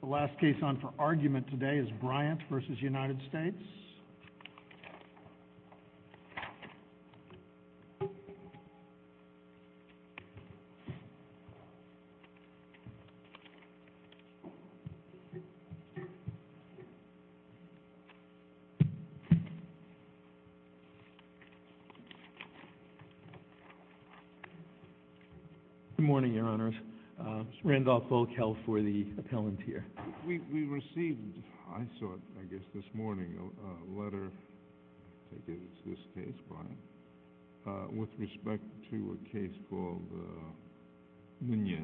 The last case on for argument today is Bryant v. United States. Good morning, your honors. Randolph Volkel for the appellant here. We received, I saw it I guess this morning, a letter with respect to a case called Munoz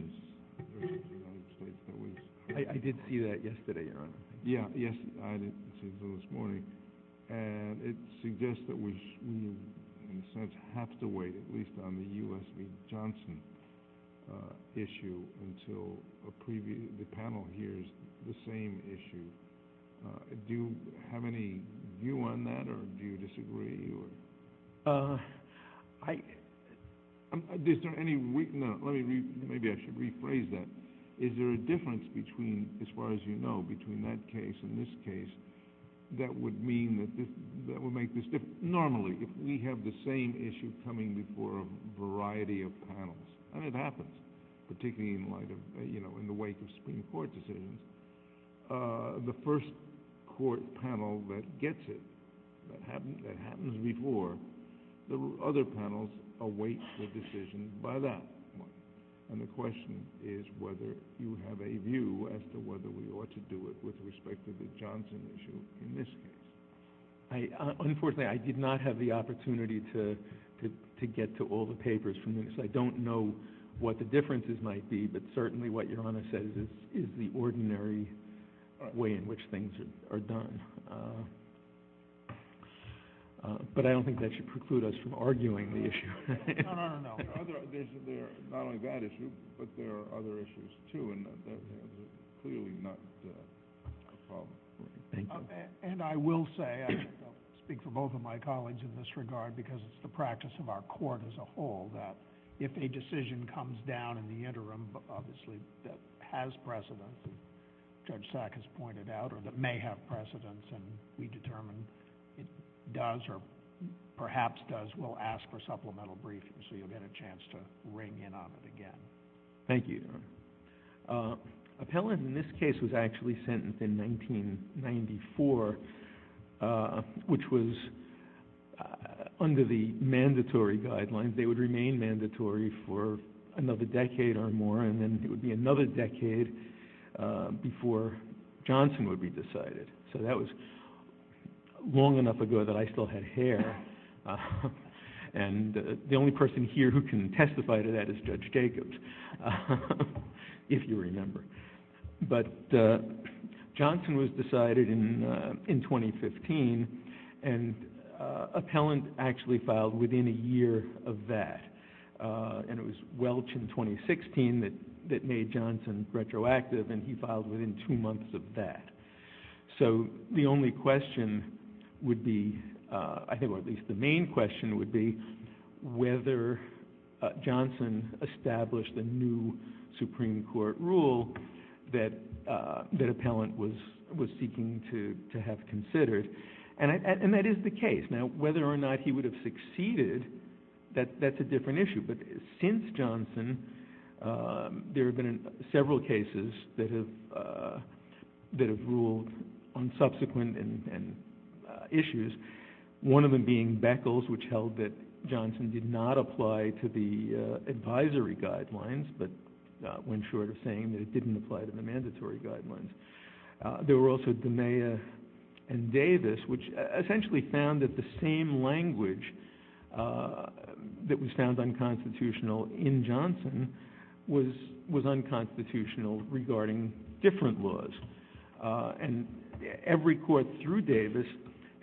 v. United States. I did see that yesterday, your honor. Yes, I did see it this morning. It suggests that we in a sense have to wait at least on the U.S. v. Johnson issue until the panel hears the same issue. Do you have any view on that or do you disagree? Maybe I should rephrase that. Is there a difference between, as far as you know, between that case and this case that would make this difference? Normally, if we have the same issue coming before a variety of panels, and it happens, particularly in the wake of Supreme Court decisions, the first court panel that gets it, that happens before, the other panels await the decision by that one. And the question is whether you have a view as to whether we ought to do it with respect to the Johnson issue in this case. Unfortunately, I did not have the opportunity to get to all the papers from Munoz. I don't know what the differences might be, but certainly what your honor says is the ordinary way in which things are done. But I don't think that should preclude us from arguing the issue. No, no, no, no. There's not only that issue, but there are other issues too, and that is clearly not a problem. And I will say, and I'll speak for both of my colleagues in this regard, because it's the practice of our court as a whole, that if a decision comes down in the interim, obviously, that has precedence, as Judge Sack has pointed out, or that may have precedence and we determine it does or perhaps does, we'll ask for supplemental briefings so you'll get a chance to ring in on it again. Thank you, your honor. Appellant in this case was actually sentenced in 1994, which was under the mandatory guidelines. They would remain mandatory for another decade or more, and then it would be another decade before Johnson would be decided. So that was long enough ago that I still had hair, and the only person here who can testify to that is Judge Jacobs. If you remember. But Johnson was decided in 2015, and appellant actually filed within a year of that. And it was Welch in 2016 that made Johnson retroactive, and he filed within two months of that. So the only question would be, or at least the main question would be, whether Johnson established a new Supreme Court rule that appellant was seeking to have considered. And that is the case. Now whether or not he would have succeeded, that's a different issue. But since Johnson, there have been several cases that have ruled on subsequent issues, one of them being Beckles, which held that Johnson did not apply to the advisory guidelines, but went short of saying that it didn't apply to the mandatory guidelines. There were also DeMeyer and Davis, which essentially found that the same language that was found unconstitutional in Johnson was unconstitutional regarding different laws. And every court through Davis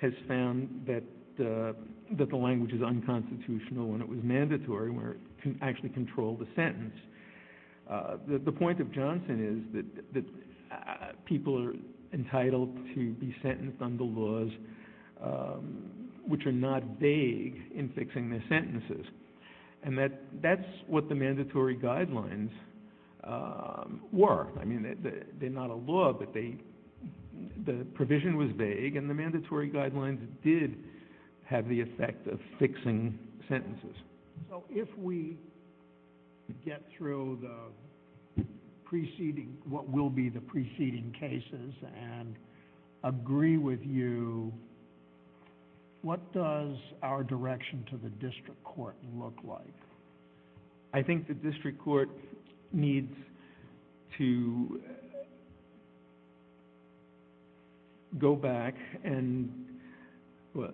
has found that the language is unconstitutional when it was mandatory, when it actually controlled the sentence. The point of Johnson is that people are entitled to be sentenced under laws which are not vague in fixing their sentences. And that's what the mandatory guidelines were. I mean, they're not a law, but the provision was vague, and the mandatory guidelines did have the effect of fixing sentences. So if we get through what will be the preceding cases and agree with you, what does our direction to the district court look like? I think the district court needs to go back and, well,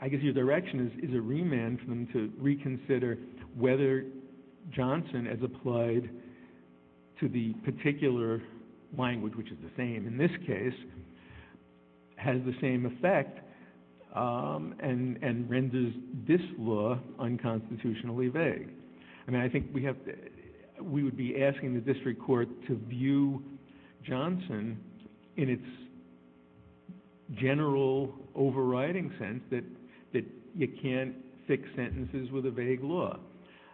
I guess your direction is a remand for them to reconsider whether Johnson as applied to the particular language, which is the same in this case, has the same effect and renders this law unconstitutionally vague. I mean, I think we would be asking the district court to view Johnson in its general overriding sense that you can't fix sentences with a vague law.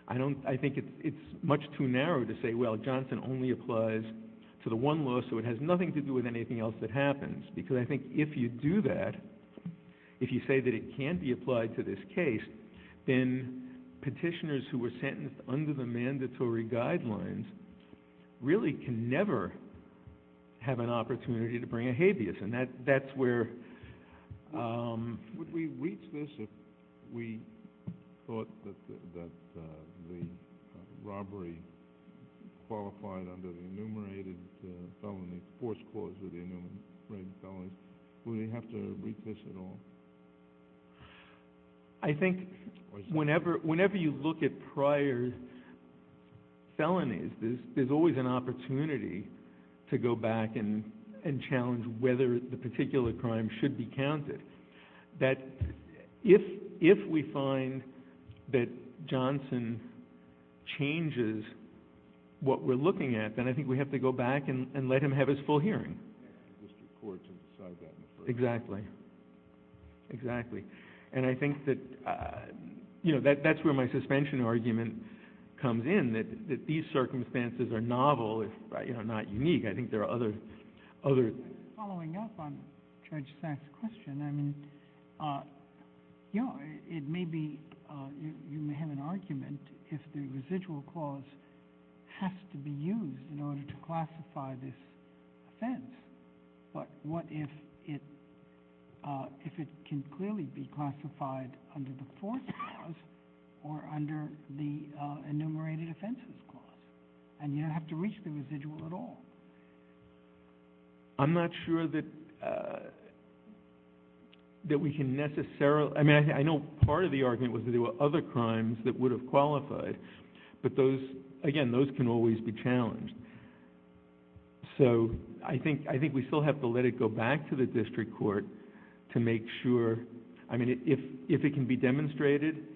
I think it's much too narrow to say, well, Johnson only applies to the one law, so it has nothing to do with anything else that happens. Because I think if you do that, if you say that it can't be applied to this case, then petitioners who were sentenced under the mandatory guidelines really can never have an opportunity to bring a habeas. Would we reach this if we thought that the robbery qualified under the enumerated felony force clause with the enumerated felonies? Would we have to reach this at all? I think whenever you look at prior felonies, there's always an opportunity to go back and challenge whether the particular crime should be counted. That if we find that Johnson changes what we're looking at, then I think we have to go back and let him have his full hearing. Exactly, exactly. And I think that's where my suspension argument comes in, that these circumstances are novel, not unique. Following up on Judge Sachs' question, you may have an argument if the residual clause has to be used in order to classify this offense. But what if it can clearly be classified under the force clause or under the enumerated offenses clause? And you don't have to reach the residual at all. I'm not sure that we can necessarily... I mean, I know part of the argument was that there were other crimes that would have qualified, but again, those can always be challenged. So I think we still have to let it go back to the district court to make sure... I mean, if it can be demonstrated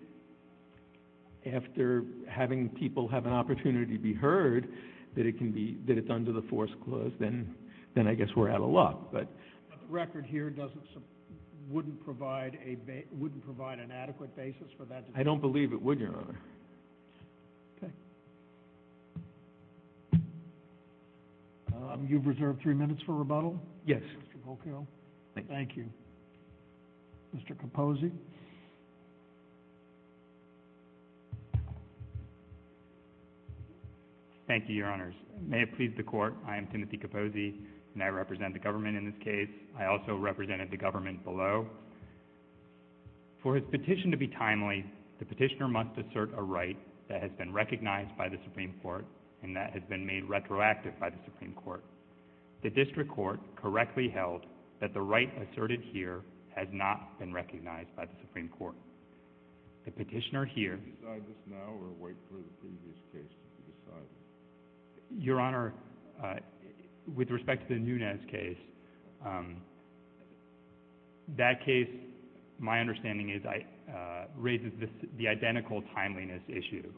after having people have an opportunity to be heard, that it's under the force clause, then I guess we're out of luck. But the record here wouldn't provide an adequate basis for that... I don't believe it would, Your Honor. Okay. You've reserved three minutes for rebuttal? Yes. Mr. Volkow? Thank you. Mr. Capozzi? Thank you, Your Honors. May it please the Court, I am Timothy Capozzi, and I represent the government in this case. I also represented the government below. For his petition to be timely, the petitioner must assert a right that has been recognized by the Supreme Court and that has been made retroactive by the Supreme Court. The district court correctly held that the right asserted here has not been recognized by the Supreme Court. The petitioner here... Your Honor, with respect to the Nunes case, that case, my understanding is, raises the identical timeliness issue.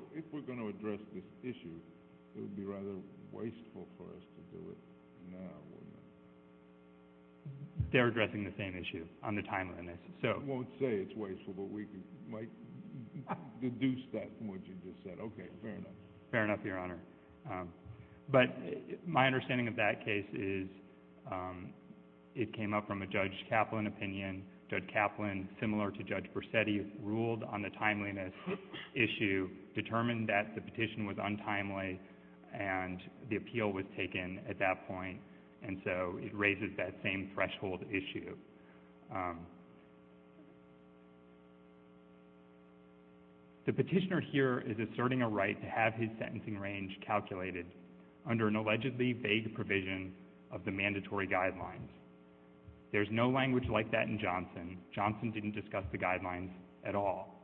They're addressing the same issue on the timeliness, so... Fair enough, Your Honor. But my understanding of that case is, it came up from a Judge Kaplan opinion. Judge Kaplan, similar to Judge Versetti, ruled on the timeliness issue, determined that the petition was untimely, and the appeal was taken at that point. And so, it raises that same threshold issue. The petitioner here is asserting a right to have his sentencing range calculated under an allegedly vague provision of the mandatory guidelines. There's no language like that in Johnson. Johnson didn't discuss the guidelines at all.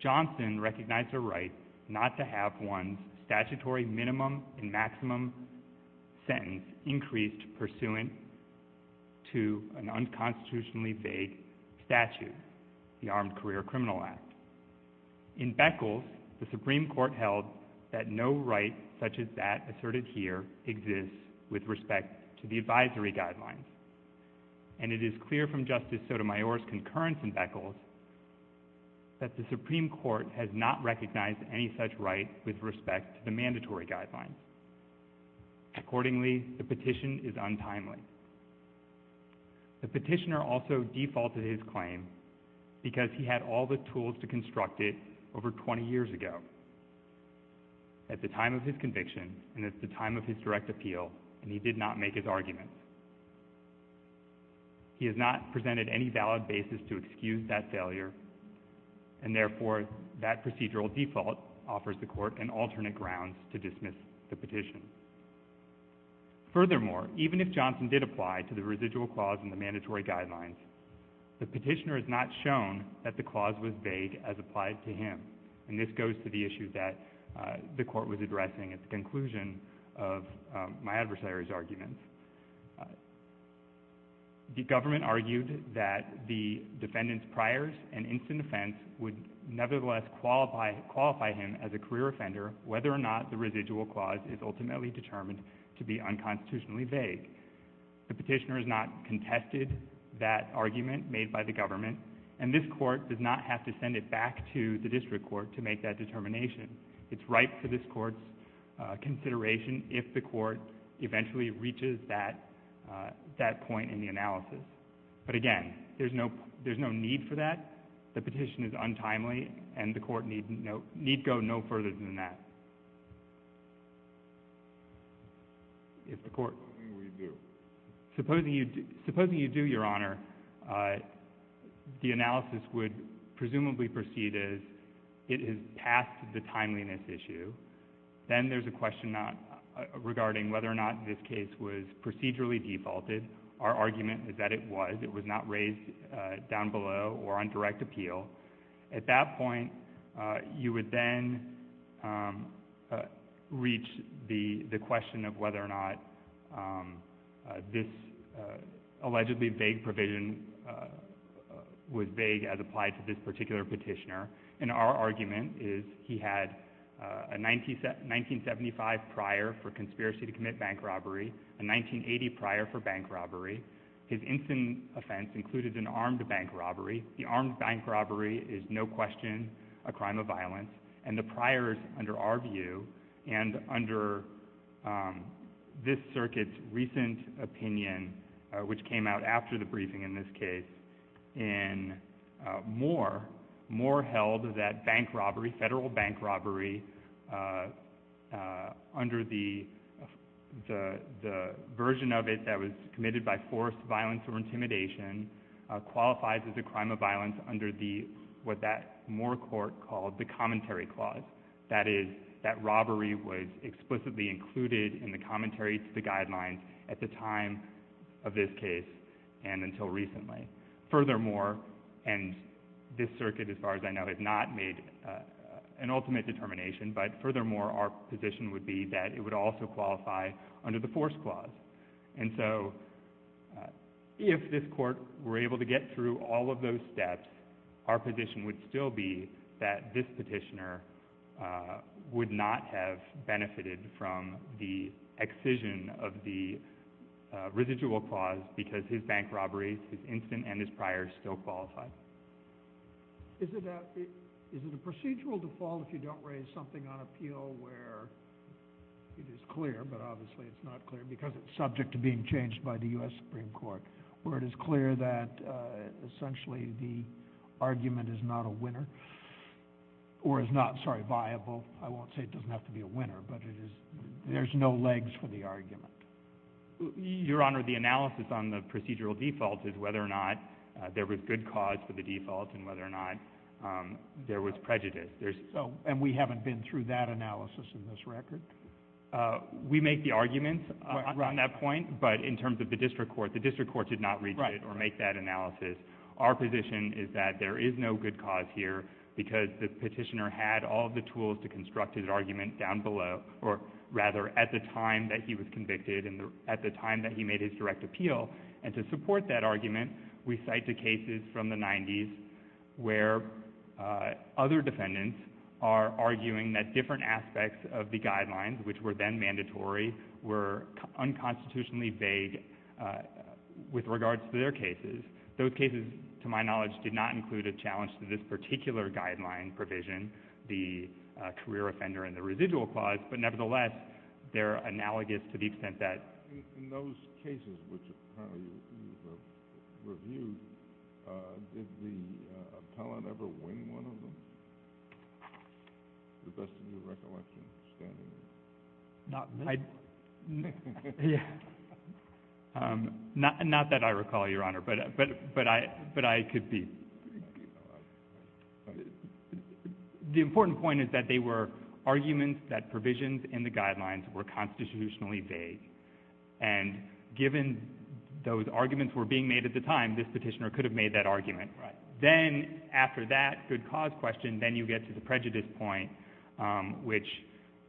Johnson recognized a right not to have one's statutory minimum and maximum sentence increased pursuant to an unconstitutionally vague statute, the Armed Career Criminal Act. In Beckles, the Supreme Court held that no right such as that asserted here exists with respect to the advisory guidelines. And it is clear from Justice Sotomayor's concurrence in Beckles that the Supreme Court has not recognized any such right with respect to the mandatory guidelines. Accordingly, the petition is untimely. The petitioner also defaulted his claim because he had all the tools to construct it over 20 years ago, at the time of his conviction and at the time of his direct appeal, and he did not make his argument. He has not presented any valid basis to excuse that failure, and therefore, that procedural default offers the Court an alternate grounds to dismiss the petition. Furthermore, even if Johnson did apply to the residual clause in the mandatory guidelines, the petitioner has not shown that the clause was vague as applied to him. And this goes to the issue that the Court was addressing at the conclusion of my adversary's argument. The government argued that the defendant's priors and instant offense would nevertheless qualify him as a career offender, whether or not the residual clause is ultimately determined to be unconstitutionally vague. The petitioner has not contested that argument made by the government, and this Court does not have to send it back to the district court to make that determination. It's right for this Court's consideration if the Court eventually reaches that point in the analysis. But again, there's no need for that. The petition is untimely, and the Court need go no further than that. Supposing we do? Supposing you do, Your Honor, the analysis would presumably proceed as it has passed the timeliness issue. Then there's a question regarding whether or not this case was procedurally defaulted. Our argument is that it was. It was not raised down below or on direct appeal. At that point, you would then reach the question of whether or not this allegedly vague provision was vague as applied to this particular petitioner. And our argument is he had a 1975 prior for conspiracy to commit bank robbery, a 1980 prior for bank robbery. His instant offense included an armed bank robbery. The armed bank robbery is no question a crime of violence, and the priors under our view and under this circuit's recent opinion, which came out after the briefing in this case, in Moore, Moore held that bank robbery, federal bank robbery, under the version of it that was committed by force, violence, or intimidation, qualifies as a crime of violence under what that Moore court called the commentary clause. That is, that robbery was explicitly included in the commentary to the guidelines at the time of this case and until recently. Furthermore, and this circuit, as far as I know, has not made an ultimate determination, but furthermore, our position would be that it would also qualify under the force clause. And so if this court were able to get through all of those steps, our position would still be that this petitioner would not have benefited from the excision of the residual clause because his bank robbery, his instant, and his prior still qualify. Is it a procedural default if you don't raise something on appeal where it is clear, but obviously it's not clear because it's subject to being changed by the U.S. Supreme Court, where it is clear that essentially the argument is not a winner or is not, sorry, viable. I won't say it doesn't have to be a winner, but it is. There's no legs for the argument. Your Honor, the analysis on the procedural default is whether or not there was good cause for the default and whether or not there was prejudice. And we haven't been through that analysis in this record? We make the arguments on that point, but in terms of the district court, the district court did not read it or make that analysis. Our position is that there is no good cause here because the petitioner had all the tools to construct his argument down below, or rather at the time that he was convicted and at the time that he made his direct appeal. And to support that argument, we cite the cases from the 90s where other defendants are arguing that different aspects of the guidelines, which were then mandatory, were unconstitutionally vague with regards to their cases. Those cases, to my knowledge, did not include a challenge to this particular guideline provision, the career offender and the residual clause, but nevertheless, they're analogous to the extent that— Your Honor, you've reviewed—did the appellant ever wing one of them? To the best of your recollection, standing there. Not that I recall, Your Honor, but I could be. The important point is that they were arguments that provisions in the guidelines were constitutionally vague. And given those arguments were being made at the time, this petitioner could have made that argument. Then, after that good cause question, then you get to the prejudice point, which,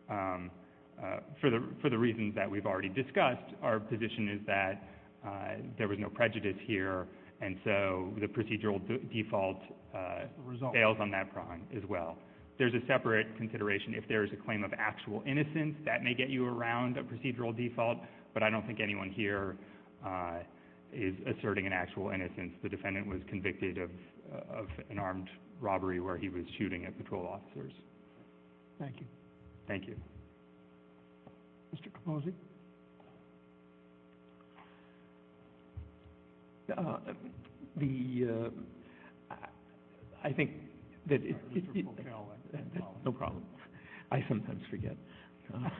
for the reasons that we've already discussed, our position is that there was no prejudice here, and so the procedural default fails on that prong as well. There's a separate consideration if there's a claim of actual innocence. That may get you around a procedural default, but I don't think anyone here is asserting an actual innocence. The defendant was convicted of an armed robbery where he was shooting at patrol officers. Thank you. Thank you. Mr. Capozzi? The—I think that— I'm sorry, Mr. Potello, I have a problem. No problem. I sometimes forget. I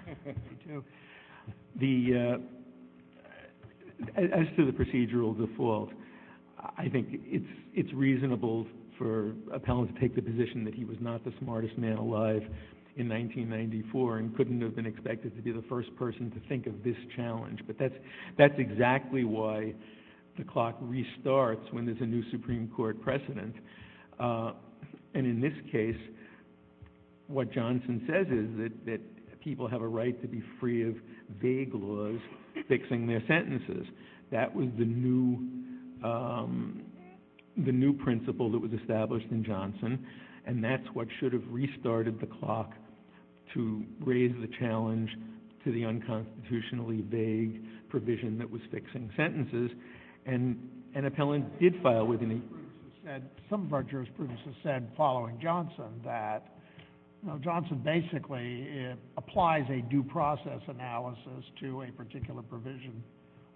do. The—as to the procedural default, I think it's reasonable for an appellant to take the position that he was not the smartest man alive in 1994 and couldn't have been expected to be the first person to think of this challenge. But that's exactly why the clock restarts when there's a new Supreme Court precedent. And in this case, what Johnson says is that people have a right to be free of vague laws fixing their sentences. That was the new principle that was established in Johnson, and that's what should have restarted the clock to raise the challenge to the unconstitutionally vague provision that was fixing sentences. And an appellant did file within the— Some of our jurisprudence has said, following Johnson, that Johnson basically applies a due process analysis to a particular provision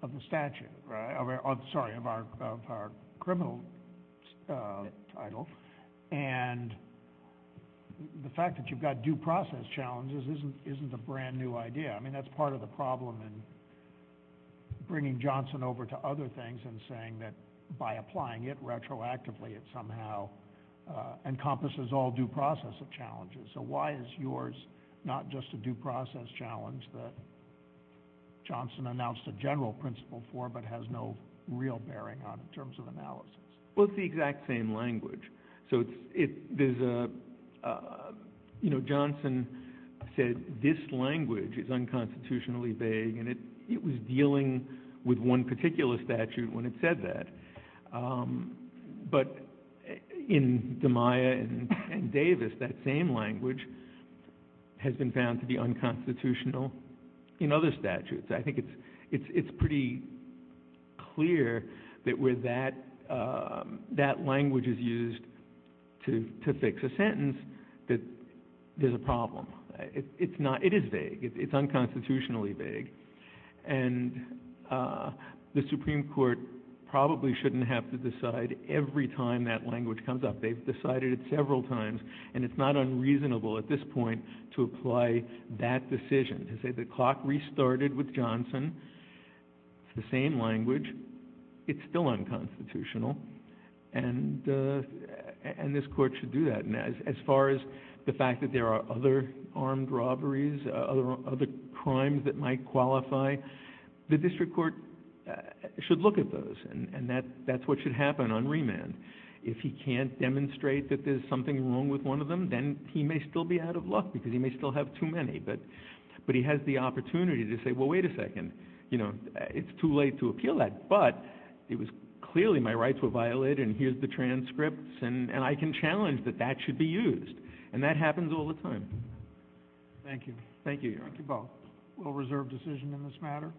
of the statute— Right. Sorry, of our criminal title. And the fact that you've got due process challenges isn't a brand-new idea. I mean, that's part of the problem in bringing Johnson over to other things and saying that by applying it retroactively, it somehow encompasses all due process challenges. So why is yours not just a due process challenge that Johnson announced a general principle for but has no real bearing on in terms of analysis? Well, it's the exact same language. So there's a—you know, Johnson said this language is unconstitutionally vague, and it was dealing with one particular statute when it said that. But in DiMaia and Davis, that same language has been found to be unconstitutional in other statutes. I think it's pretty clear that where that language is used to fix a sentence that there's a problem. It's not—it is vague. It's unconstitutionally vague. And the Supreme Court probably shouldn't have to decide every time that language comes up. They've decided it several times, and it's not unreasonable at this point to apply that decision. To say the clock restarted with Johnson, it's the same language, it's still unconstitutional, and this court should do that. And as far as the fact that there are other armed robberies, other crimes that might qualify, the district court should look at those, and that's what should happen on remand. If he can't demonstrate that there's something wrong with one of them, then he may still be out of luck because he may still have too many. But he has the opportunity to say, well, wait a second, you know, it's too late to appeal that. But it was clearly my rights were violated, and here's the transcripts, and I can challenge that that should be used. And that happens all the time. Thank you. Thank you, Your Honor. Thank you both. We'll reserve decision in this matter.